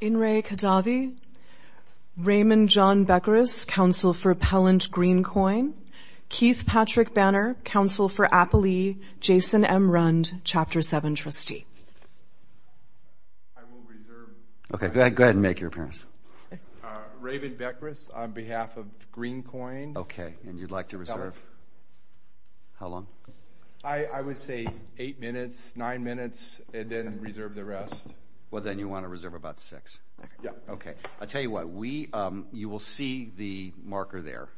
In re. Khadavi. Raymond John Bekris, counsel for Pellant Greencoin. Keith Patrick Banner, counsel for Appalee. Jason M. Rund, Chapter 7 trustee. Okay go ahead and make your appearance. Raven Bekris on behalf of Greencoin. Okay and you'd like to reserve? How long? I would say eight minutes, nine minutes and then you want to reserve about six. Yeah. Okay I'll tell you what we you will see the marker there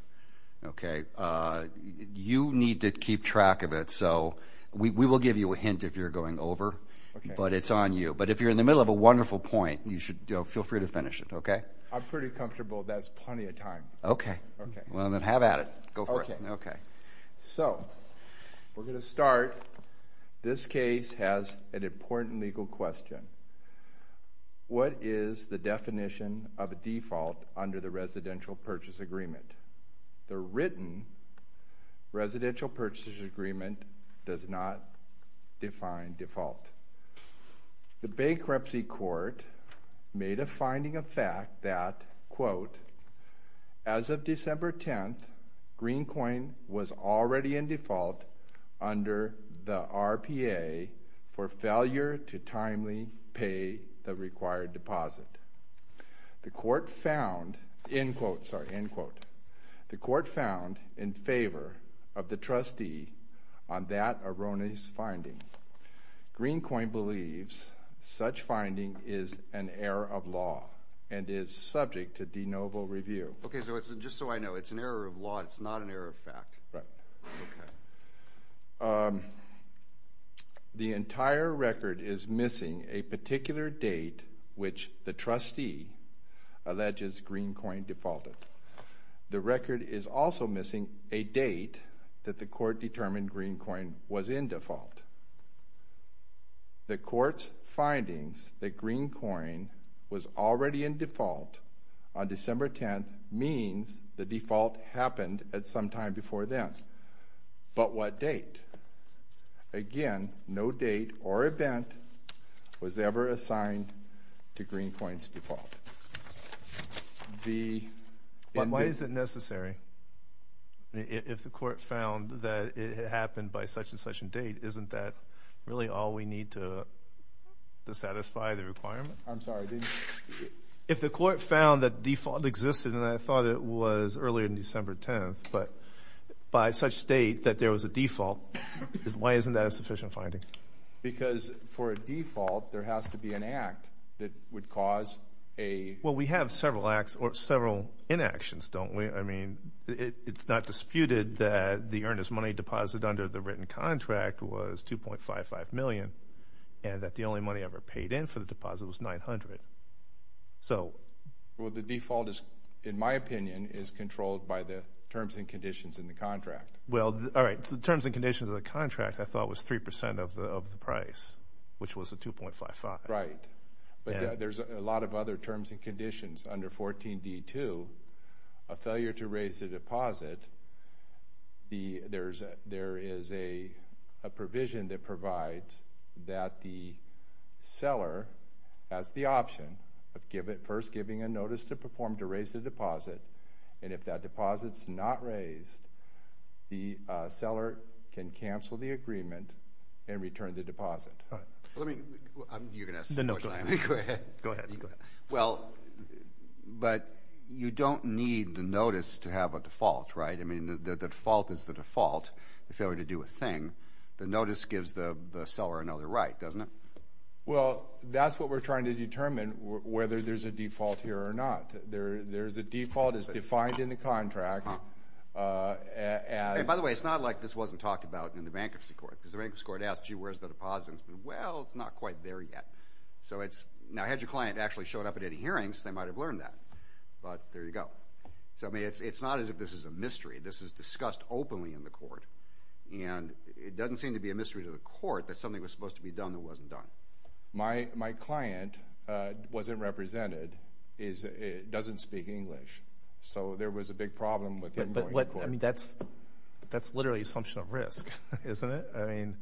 okay you need to keep track of it so we will give you a hint if you're going over but it's on you but if you're in the middle of a wonderful point you should feel free to finish it okay. I'm pretty comfortable that's plenty of time. Okay okay well then have at it. Okay okay so we're gonna start this case has an important legal question. What is the definition of a default under the residential purchase agreement? The written residential purchase agreement does not define default. The bankruptcy court made a finding of fact that quote as of December 10th the RPA for failure to timely pay the required deposit. The court found in quote sorry in quote the court found in favor of the trustee on that erroneous finding. Greencoin believes such finding is an error of law and is subject to de novo review. Okay so it's just so I know it's an error of law it's not an error of fact. The entire record is missing a particular date which the trustee alleges green coin defaulted. The record is also missing a date that the court determined green coin was in default. The court's findings that green coin was already in default on December 10th means the default happened at some time before then. But what date? Again no date or event was ever assigned to green coins default. Why is it necessary if the court found that it happened by such-and-such a date isn't that really all we need to satisfy the requirement? I'm sorry if the court found that default existed and I thought it was earlier in December 10th but by such date that there was a default is why isn't that a sufficient finding? Because for a default there has to be an act that would cause a. Well we have several acts or several inactions don't we I mean it's not disputed that the earnest money deposit under the written contract was 2.55 million and that the only money ever paid in for the deposit was 900. So well the default is in my opinion is controlled by the terms and conditions in the contract. Well all right the terms and conditions of the contract I thought was 3% of the of the price which was a 2.55. Right but there's a lot of other terms and conditions under 14d2 a failure to raise the as the option of give it first giving a notice to perform to raise the deposit and if that deposits not raised the seller can cancel the agreement and return the deposit. Go ahead. Well but you don't need the notice to have a default right I mean the default is the default if you were to do a thing the notice gives the seller another right doesn't it? Well that's what we're trying to determine whether there's a default here or not there there's a default is defined in the contract. By the way it's not like this wasn't talked about in the bankruptcy court because the bankruptcy court asked you where's the deposits well it's not quite there yet so it's now had your client actually showed up at any hearings they might have learned that but there you go so I mean it's it's not as if this is a mystery this is discussed openly in the court and it was a mystery to the court that something was supposed to be done that wasn't done. My my client wasn't represented is it doesn't speak English so there was a big problem with it but what I mean that's that's literally assumption of risk isn't it I mean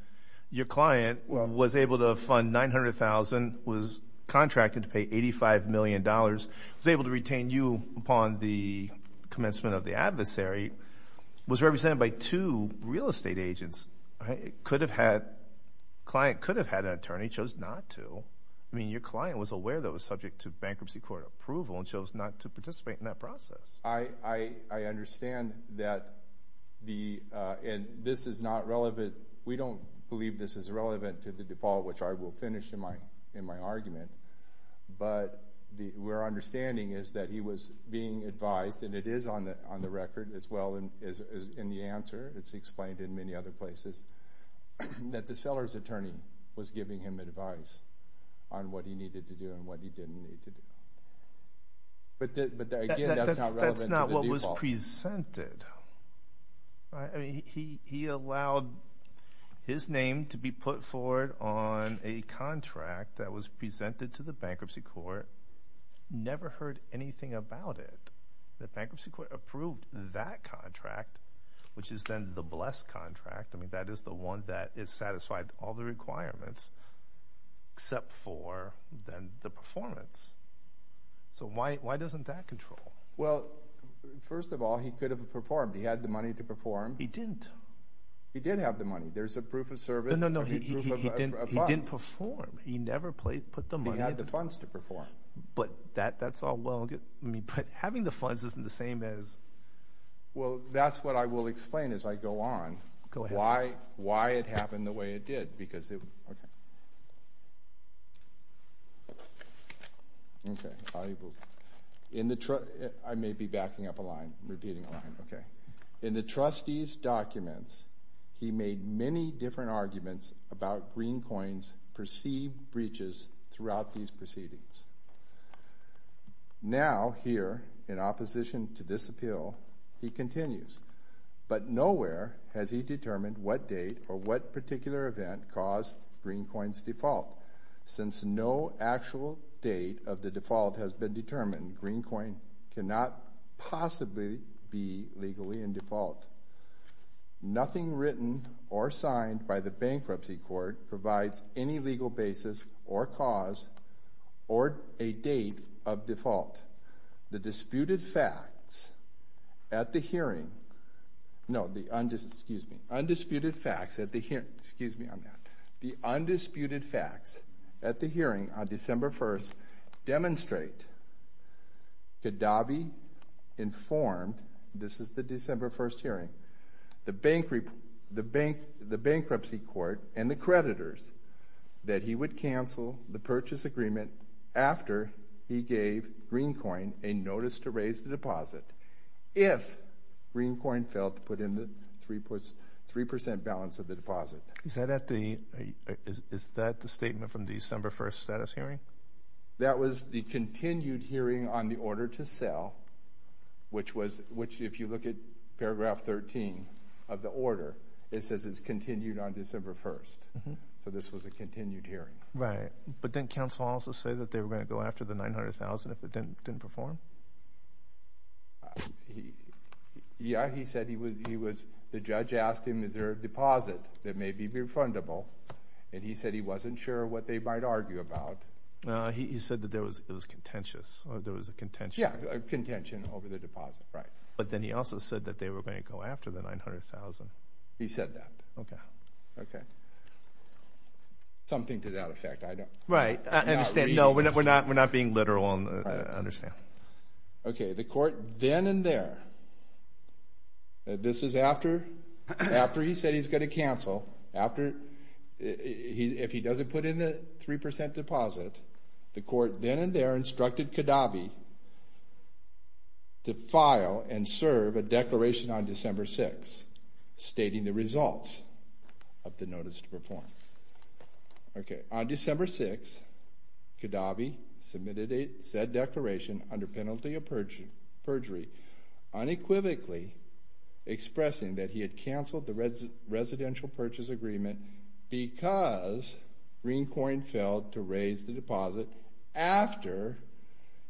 your client was able to fund nine hundred thousand was contracted to pay eighty five million dollars was able to retain you upon the commencement of the adversary was represented by two real estate agents it could have had client could have had an attorney chose not to I mean your client was aware that was subject to bankruptcy court approval and chose not to participate in that process. I I understand that the and this is not relevant we don't believe this is relevant to the default which I will finish in my in my argument but the we're understanding is that he was being advised and it is on the on the record as well and is in the answer it's explained in many other places that the seller's attorney was giving him advice on what he needed to do and what he didn't need to do but that's not what was presented I mean he he allowed his name to be put forward on a contract that was presented to the bankruptcy court never heard anything about it the the blessed contract I mean that is the one that is satisfied all the requirements except for then the performance so why why doesn't that control well first of all he could have performed he had the money to perform he didn't he did have the money there's a proof of service no no he didn't he didn't perform he never played put the money had the funds to perform but that that's all well get me but having the funds isn't the same as well that's what I will explain as I go on go why why it happened the way it did because in the truck I may be backing up a line repeating line okay in the trustees documents he made many different arguments about green coins perceived breaches throughout these proceedings now here in opposition to this appeal he but nowhere has he determined what date or what particular event caused green coins default since no actual date of the default has been determined green coin cannot possibly be legally in default nothing written or signed by the bankruptcy court provides any legal basis or cause or a date of default the no the undiscussed excuse me undisputed facts at the here excuse me on that the undisputed facts at the hearing on December 1st demonstrate Gaddafi informed this is the December 1st hearing the bank reap the bank the bankruptcy court and the creditors that he would cancel the purchase agreement after he gave green coin a notice to raise the deposit if green coin felt put in the three puts three percent balance of the deposit is that at the is that the statement from December 1st status hearing that was the continued hearing on the order to sell which was which if you look at paragraph 13 of the order it says it's continued on December 1st so this was a continued hearing right but didn't counsel also say that they were going to go after the 900,000 if it didn't didn't perform yeah he said he was he was the judge asked him is there a deposit that may be refundable and he said he wasn't sure what they might argue about no he said that there was it was contentious there was a contention yeah contention over the deposit right but then he also said that they were going to go after the 900,000 he said that okay okay something to that effect right I understand no we're not we're not being literal on understand okay the court then and there this is after after he said he's going to cancel after he if he doesn't put in the 3% deposit the court then and there instructed Kadabi to file and serve a declaration on December 6 stating the results of the December 6 Kadabi submitted a said declaration under penalty of perjury unequivocally expressing that he had canceled the residential purchase agreement because green coin failed to raise the deposit after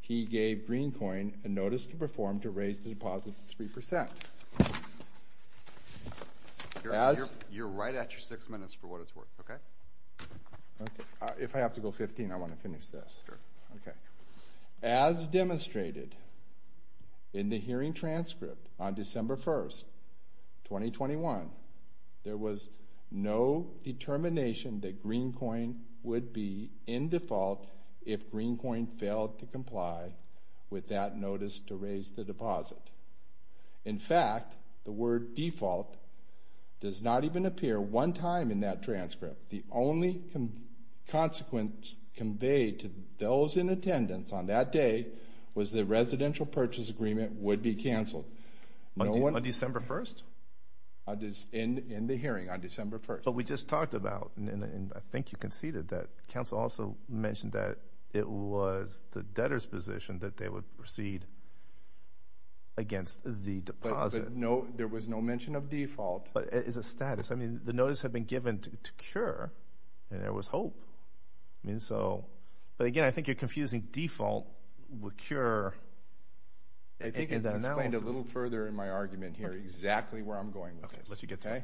he gave green coin and notice to perform to raise the deposit 3% as you're right at your six minutes for what it's worth okay if I have to go 15 I want to finish this okay as demonstrated in the hearing transcript on December 1st 2021 there was no determination that green coin would be in default if green coin failed to comply with that notice to raise the deposit in fact the word default does not even appear one time in that transcript the only consequence conveyed to those in attendance on that day was the residential purchase agreement would be canceled on December 1st in the hearing on December 1st but we just talked about and I think you conceded that council also mentioned that it was the debtors position that they would proceed against the deposit no there was no mention of default but is a status I mean the notice had been given to cure and there was hope I mean so but again I think you're confusing default would cure a little further in my argument here exactly where I'm going okay let you get okay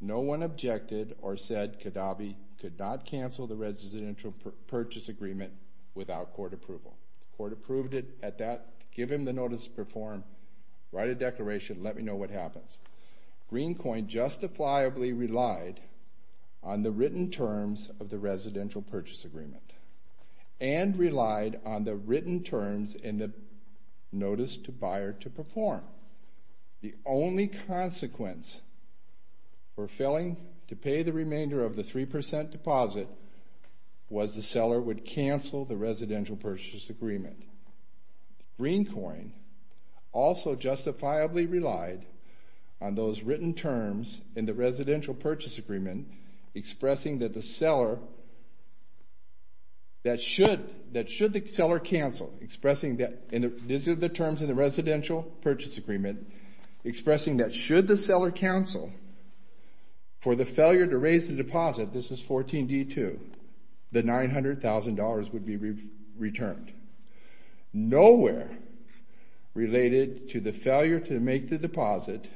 no one objected or said Kadabi could not cancel the residential purchase agreement without court approval court approved it at that give a declaration let me know what happens green coin justifiably relied on the written terms of the residential purchase agreement and relied on the written terms in the notice to buyer to perform the only consequence for failing to pay the remainder of the 3% deposit was the seller would cancel the on those written terms in the residential purchase agreement expressing that the seller that should that should the seller cancel expressing that in the visit of the terms of the residential purchase agreement expressing that should the seller counsel for the failure to raise the deposit this is 14 d2 the nine hundred thousand dollars would be returned nowhere related to the failure to make the deposit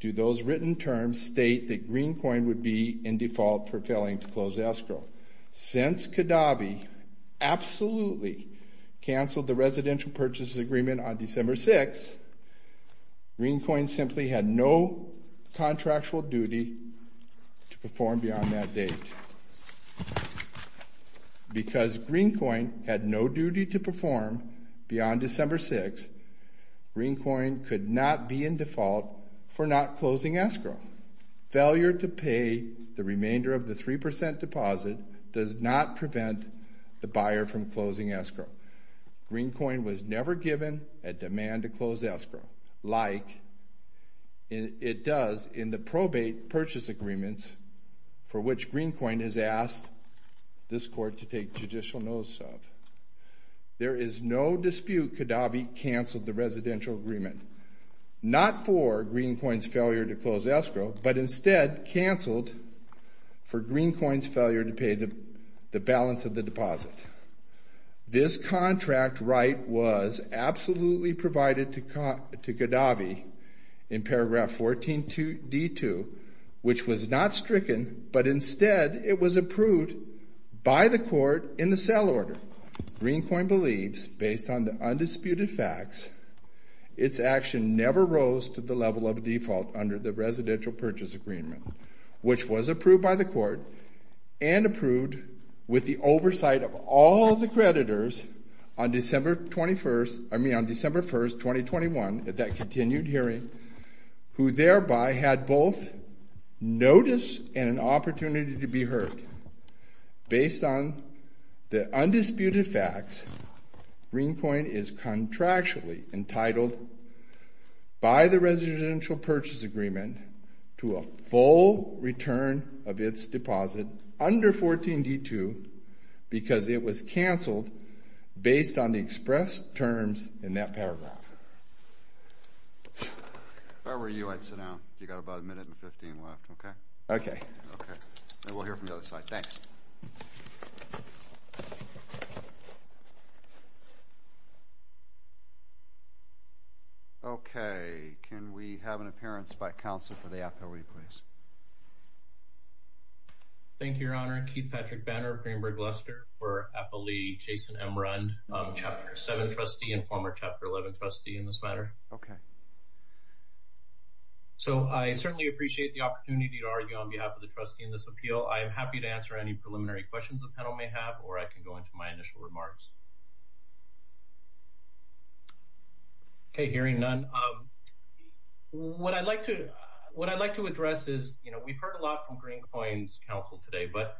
do those written terms state that green coin would be in default for failing to close the escrow since Kadabi absolutely canceled the residential purchase agreement on December 6 green coin simply had no contractual duty to perform beyond that date because green had no duty to perform beyond December 6 green coin could not be in default for not closing escrow failure to pay the remainder of the 3% deposit does not prevent the buyer from closing escrow green coin was never given a demand to close escrow like it does in the probate purchase agreements for which green coin is asked this court to take judicial notice of there is no dispute Kadabi canceled the residential agreement not for green coins failure to close escrow but instead canceled for green coins failure to pay the balance of the deposit this contract right was absolutely provided to Kadabi in approved by the court in the cell order green coin believes based on the undisputed facts its action never rose to the level of default under the residential purchase agreement which was approved by the court and approved with the oversight of all the creditors on December 21st I mean on December 1st 2021 at that continued hearing who thereby had both notice and an based on the undisputed facts green coin is contractually entitled by the residential purchase agreement to a full return of its deposit under 14 d2 because it was canceled based on the express terms in that paragraph I were you I'd sit down you got about a minute and 15 left okay okay we'll hear from the other side thanks okay can we have an appearance by counsel for the after we please thank your honor Keith Patrick banner of Greenberg Lester for okay so I certainly appreciate the opportunity to argue on behalf of the trustee in this appeal I am happy to answer any preliminary questions the panel may have or I can go into my initial remarks okay hearing none um what I'd like to what I'd like to address is you know we've heard a lot from green coins counsel today but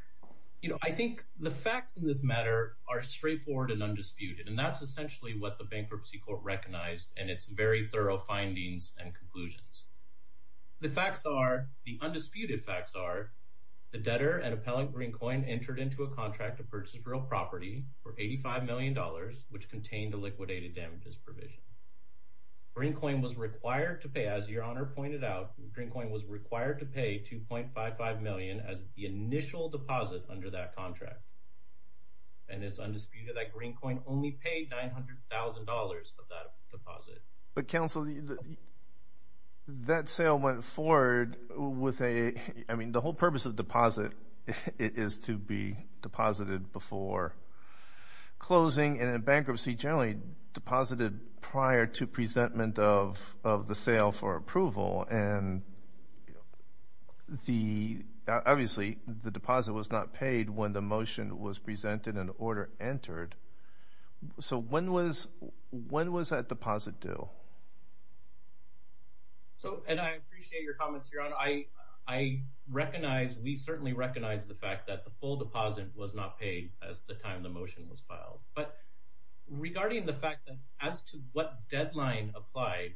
you know I think the facts in this matter are straightforward and undisputed and that's essentially what the bankruptcy court recognized and it's very thorough findings and conclusions the facts are the undisputed facts are the debtor and appellant green coin entered into a contract to purchase real property for 85 million dollars which contained a liquidated damages provision green coin was required to pay as your honor pointed out green coin was required to pay 2.55 million as the initial deposit under that contract and it's undisputed that green coin only paid nine hundred thousand dollars of that deposit but counsel that sale went forward with a I mean the whole purpose of deposit it is to be deposited before closing and bankruptcy generally deposited prior to presentment of of the sale for approval and the obviously the deposit was not paid when the motion was presented an when was that deposit due so and I appreciate your comments here on I I recognize we certainly recognize the fact that the full deposit was not paid as the time the motion was filed but regarding the fact that as to what deadline applied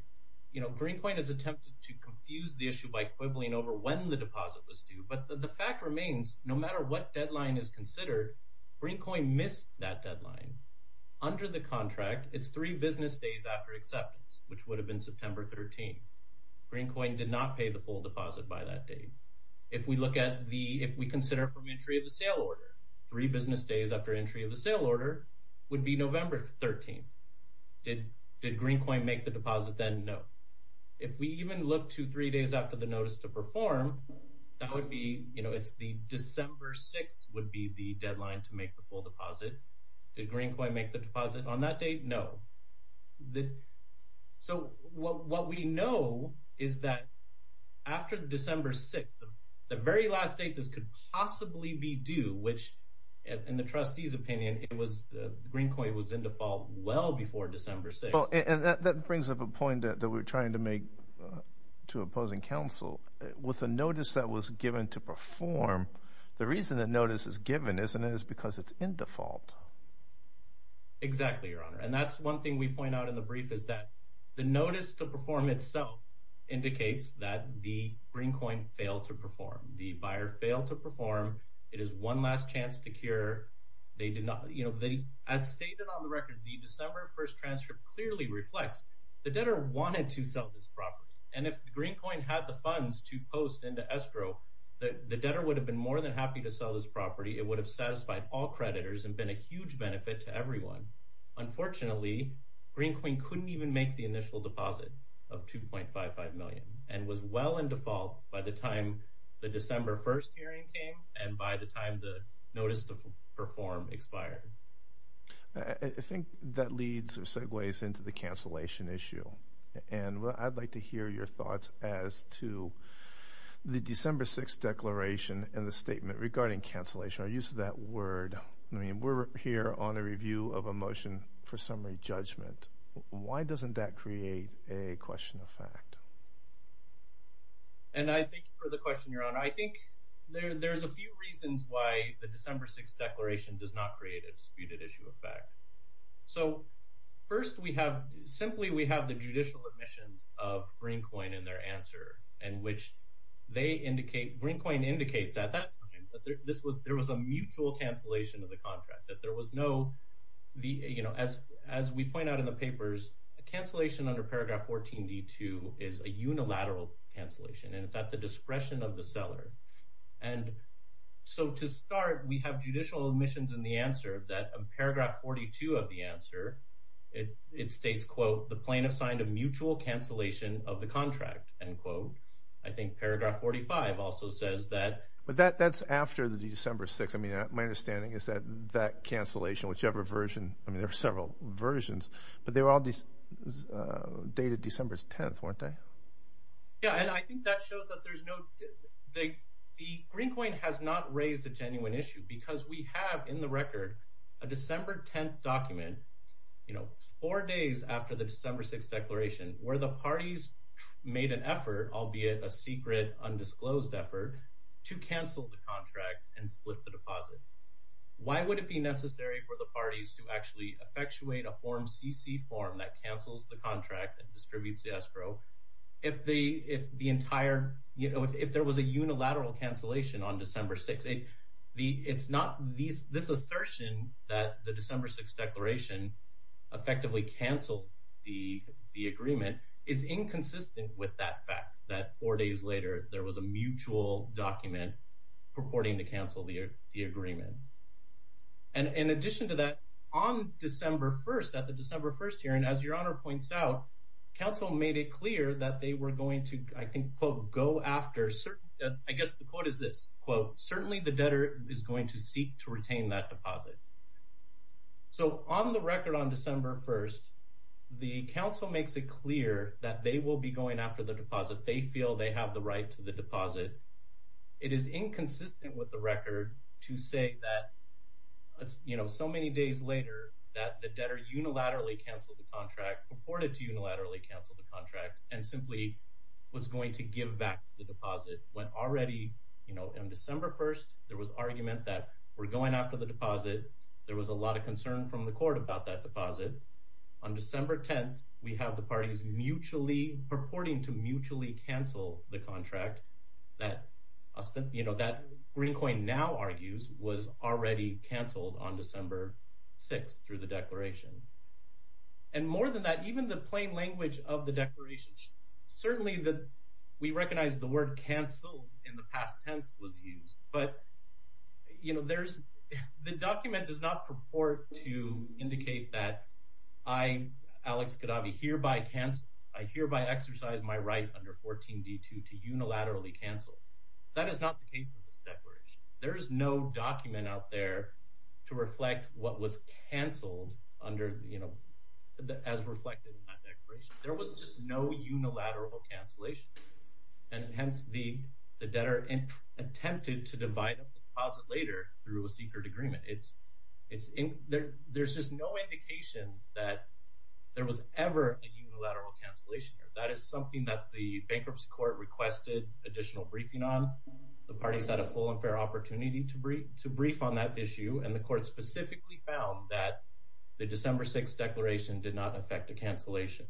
you know green point is attempted to confuse the issue by quibbling over when the deposit was due but the fact remains no matter what deadline is considered green coin miss that deadline under the contract it's three business days after acceptance which would have been September 13 green coin did not pay the full deposit by that day if we look at the if we consider from entry of the sale order three business days after entry of the sale order would be November 13th did did green coin make the deposit then no if we even look to three days after the notice to perform that would be you know it's the December 6th would be the deadline to make the full deposit greenpoint make the deposit on that date no the so what we know is that after December 6th the very last date this could possibly be due which in the trustees opinion it was the green point was in default well before December 6 and that brings up a point that we're trying to make to opposing counsel with the notice that was given to perform the reason that notice is given isn't it is because it's in default exactly your honor and that's one thing we point out in the brief is that the notice to perform itself indicates that the green coin failed to perform the buyer failed to perform it is one last chance to cure they did not you know they as stated on the record the December 1st transcript clearly reflects the debtor wanted to sell this property and if the green coin had the funds to post in the escrow that the debtor would have been more than happy to sell this property it would have satisfied all creditors and been a huge benefit to everyone unfortunately green queen couldn't even make the initial deposit of 2.55 million and was well in default by the time the December 1st hearing came and by the time the notice to perform expired I think that leads or segues into the cancellation issue and I'd like to hear your thoughts as to the December 6th declaration and the statement regarding cancellation our use of that word I mean we're here on a review of a motion for summary judgment why doesn't that create a question of fact and I think for the question your honor I think there's a few reasons why the December 6th declaration does not create a disputed issue of fact so first we have simply we in their answer and which they indicate green coin indicates at that this was there was a mutual cancellation of the contract that there was no the you know as as we point out in the papers a cancellation under paragraph 14 d2 is a unilateral cancellation and it's at the discretion of the seller and so to start we have judicial admissions in the answer that paragraph 42 of the answer it states quote the plaintiff signed a mutual cancellation of the contract and quote I think paragraph 45 also says that but that that's after the December 6 I mean my understanding is that that cancellation whichever version I mean there are several versions but they were all these dated December 10th weren't they yeah and I think that shows that there's no they the green coin has not raised a genuine issue because we have in the record a December 10th document you know four days after the December 6th declaration where the parties made an effort albeit a secret undisclosed effort to cancel the contract and split the deposit why would it be necessary for the parties to actually effectuate a form CC form that cancels the contract and distributes the escrow if the if the entire you know if there was a unilateral cancellation on December 6 a it's not these this assertion that the December 6 declaration effectively canceled the the agreement is inconsistent with that fact that four days later there was a mutual document purporting to cancel the agreement and in addition to that on December 1st at the December 1st hearing as your honor points out counsel made it clear that they were going to I think quote go after sir I guess the quote is this quote certainly the debtor is going to seek to retain that deposit so on the record on December 1st the council makes it clear that they will be going after the deposit they feel they have the right to the deposit it is inconsistent with the record to say that you know so many days later that the debtor unilaterally canceled the contract purported to unilaterally cancel the contract and simply was going to give back the deposit when already you know in December 1st there was argument that we're going after the deposit there was a lot of concern from the court about that deposit on December 10th we have the parties mutually purporting to mutually cancel the contract that you know that green coin now argues was already canceled on December 6 through the declaration and more than that even the plain language of the declaration certainly that we recognize the word canceled in the past tense was used but you know there's the document does not purport to indicate that I Alex could I be here by chance I hereby exercise my right under 14 d2 to unilaterally cancel that is not the case there's no document out there to reflect what was canceled under you know as reflected there was just no unilateral cancellation and hence the debtor in attempted to divide up the deposit later through a secret agreement it's it's in there there's just no indication that there was ever a unilateral cancellation here that is something that the bankruptcy court requested additional briefing on the on that issue and the court specifically found that the December 6 declaration did not affect the cancellation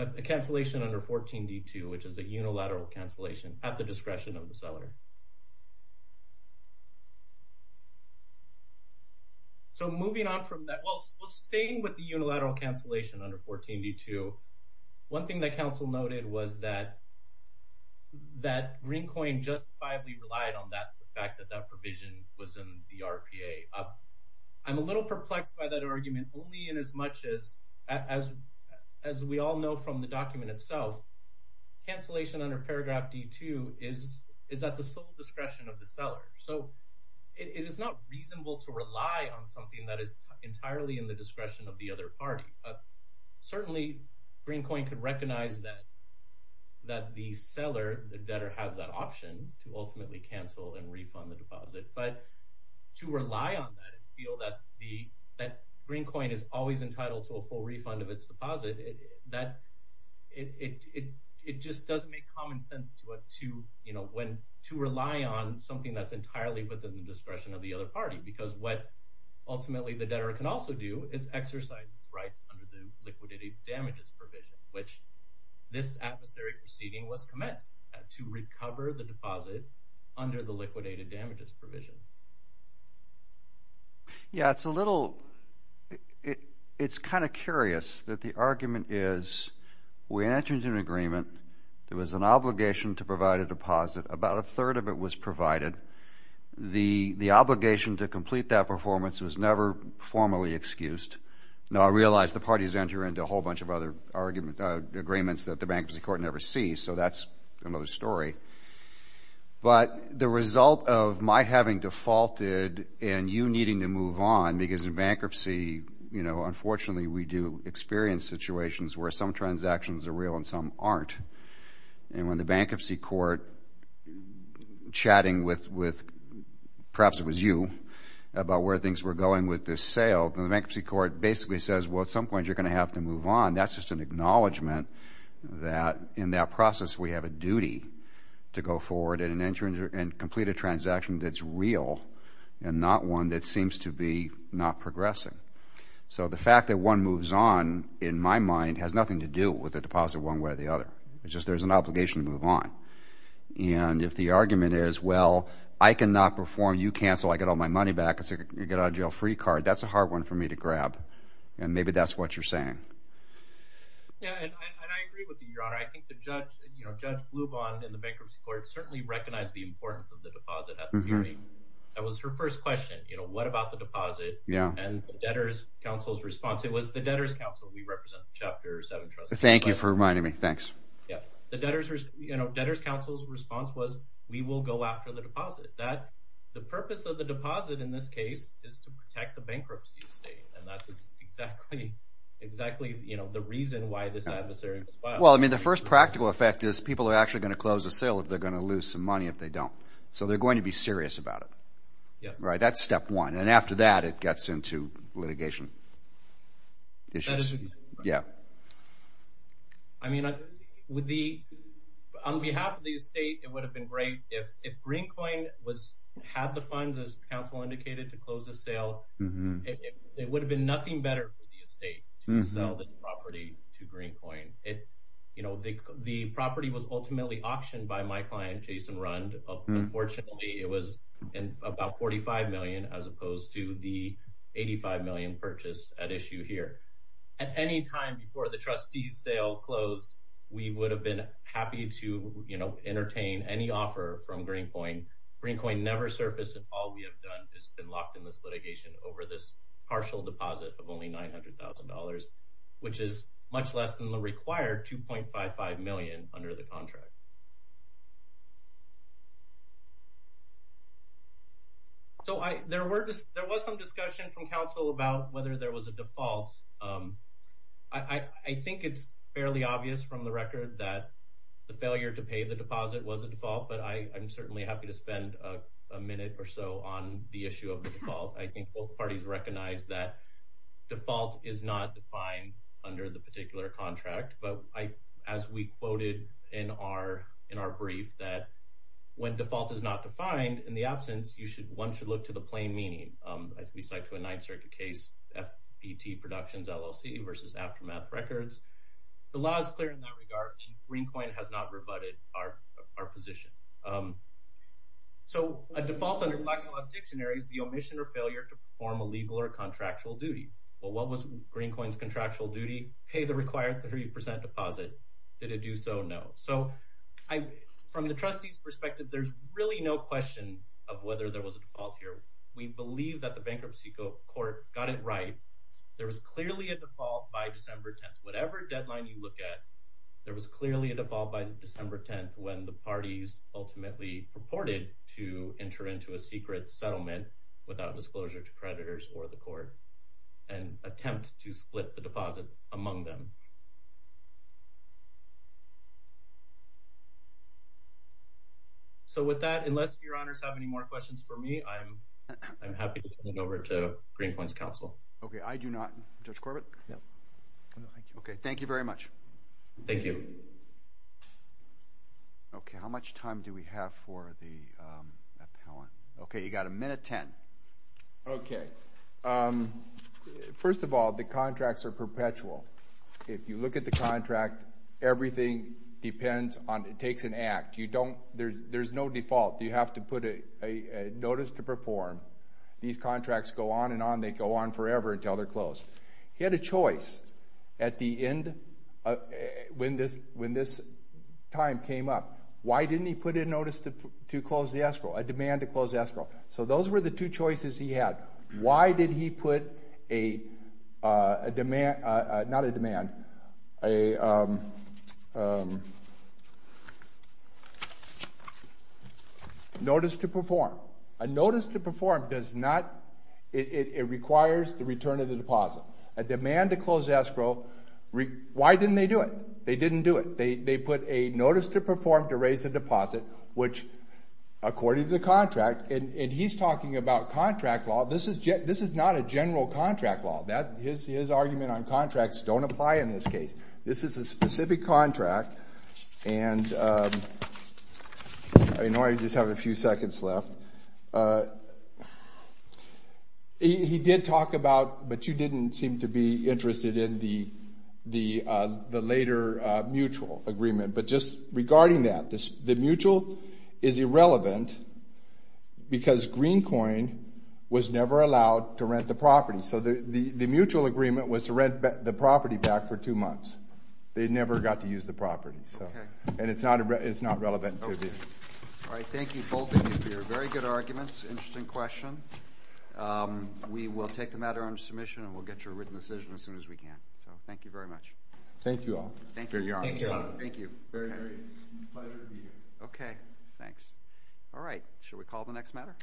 a cancellation under 14 d2 which is a unilateral cancellation at the discretion of the seller so moving on from that well staying with the unilateral cancellation under 14 d2 one thing that counsel noted was that that green coin just five we relied on that provision was in the RPA up I'm a little perplexed by that argument only in as much as as as we all know from the document itself cancellation under paragraph d2 is is that the sole discretion of the seller so it is not reasonable to rely on something that is entirely in the discretion of the other party but certainly green coin could recognize that that the seller the ultimately cancel and refund the deposit but to rely on that and feel that the that green coin is always entitled to a full refund of its deposit that it it just doesn't make common sense to what to you know when to rely on something that's entirely within the discretion of the other party because what ultimately the debtor can also do is exercise its rights under the liquidated damages provision which this adversary proceeding was commenced to the deposit under the liquidated damages provision yeah it's a little it it's kind of curious that the argument is we entered an agreement there was an obligation to provide a deposit about a third of it was provided the the obligation to complete that performance was never formally excused now I realized the parties enter into a whole bunch of other argument agreements that the bankruptcy court never see so that's another story but the result of my having defaulted and you needing to move on because bankruptcy you know unfortunately we do experience situations where some transactions are real and some aren't and when the bankruptcy court chatting with with perhaps it was you about where things were going with this sale the bankruptcy court basically says well at some point you're gonna have to move on that's just an acknowledgement that in that process we have a duty to go forward and an insurance and complete a transaction that's real and not one that seems to be not progressing so the fact that one moves on in my mind has nothing to do with the deposit one way or the other it's just there's an obligation to move on and if the argument is well I cannot perform you cancel I get all my money back it's a get out of jail free card that's a hard one for me to grab and I think the judge you know judge blue bond in the bankruptcy court certainly recognized the importance of the deposit that was her first question you know what about the deposit yeah and debtors counsel's response it was the debtors counsel we represent chapter seven trust thank you for reminding me thanks yeah the debtors you know debtors counsel's response was we will go after the deposit that the purpose of the deposit in this case is to protect the well I mean the first practical effect is people are actually going to close a sale if they're going to lose some money if they don't so they're going to be serious about it yes right that's step one and after that it gets into litigation issues yeah I mean I would be on behalf of the estate it would have been great if if green coin was had the funds as counsel indicated to close the sale it would have been nothing better for the estate to sell the property to green coin it you know the the property was ultimately auctioned by my client Jason Rund unfortunately it was in about 45 million as opposed to the 85 million purchase at issue here at any time before the trustees sale closed we would have been happy to you know entertain any offer from green point green coin never surfaced and all we have done has been locked in this litigation over this partial deposit of only $900,000 which is much less than the required 2.5 5 million under the contract so I there were just there was some discussion from counsel about whether there was a default I think it's fairly obvious from the record that the failure to pay the deposit was a default but I am certainly happy to spend a minute or so on the issue of the default I think both parties recognize that default is not defined under the particular contract but I as we quoted in our in our brief that when default is not defined in the absence you should one should look to the plain meaning as we cite to a ninth circuit case FPT productions LLC versus aftermath records the law is clear in that regard green coin has not rebutted our our position so a default under flexible dictionaries the omission or failure to perform a legal or contractual duty well what was green coins contractual duty pay the required 30% deposit did it do so no so I from the trustees perspective there's really no question of whether there was a default here we believe that the bankruptcy court got it right there was clearly a default by December 10th whatever deadline you look at there was clearly a default by December 10th when the parties ultimately purported to enter into a secret settlement without disclosure to creditors or the court and attempt to split the deposit among them so with that unless your honors have any more questions for me I'm I'm happy to counsel okay I do not judge Corbett okay thank you very much thank you okay how much time do we have for the okay you got a minute 10 okay first of all the contracts are perpetual if you look at the contract everything depends on it takes an act you don't there's there's no default you have to put a notice to on and on they go on forever until they're closed he had a choice at the end when this when this time came up why didn't he put in notice to close the escrow a demand to close escrow so those were the two choices he had why did he put a demand not a demand a notice to perform a notice to perform does not it requires the return of the deposit a demand to close escrow why didn't they do it they didn't do it they put a notice to perform to raise a deposit which according to the contract and he's talking about contract law this is jet this is not a general contract law that his argument on contracts don't apply in this case this is a specific contract and I know I just have a few seconds left he did talk about but you didn't seem to be interested in the the the later mutual agreement but just regarding that this the mutual is irrelevant because green coin was never allowed to rent the property so the the the mutual agreement was to rent the property back for two months they never got to use the property so and it's not it's not relevant to me all right thank you for your very good arguments interesting question we will take the matter under submission and we'll get your written decision as soon as we can so thank you very much thank you all thank you okay thanks all right should we call the next matter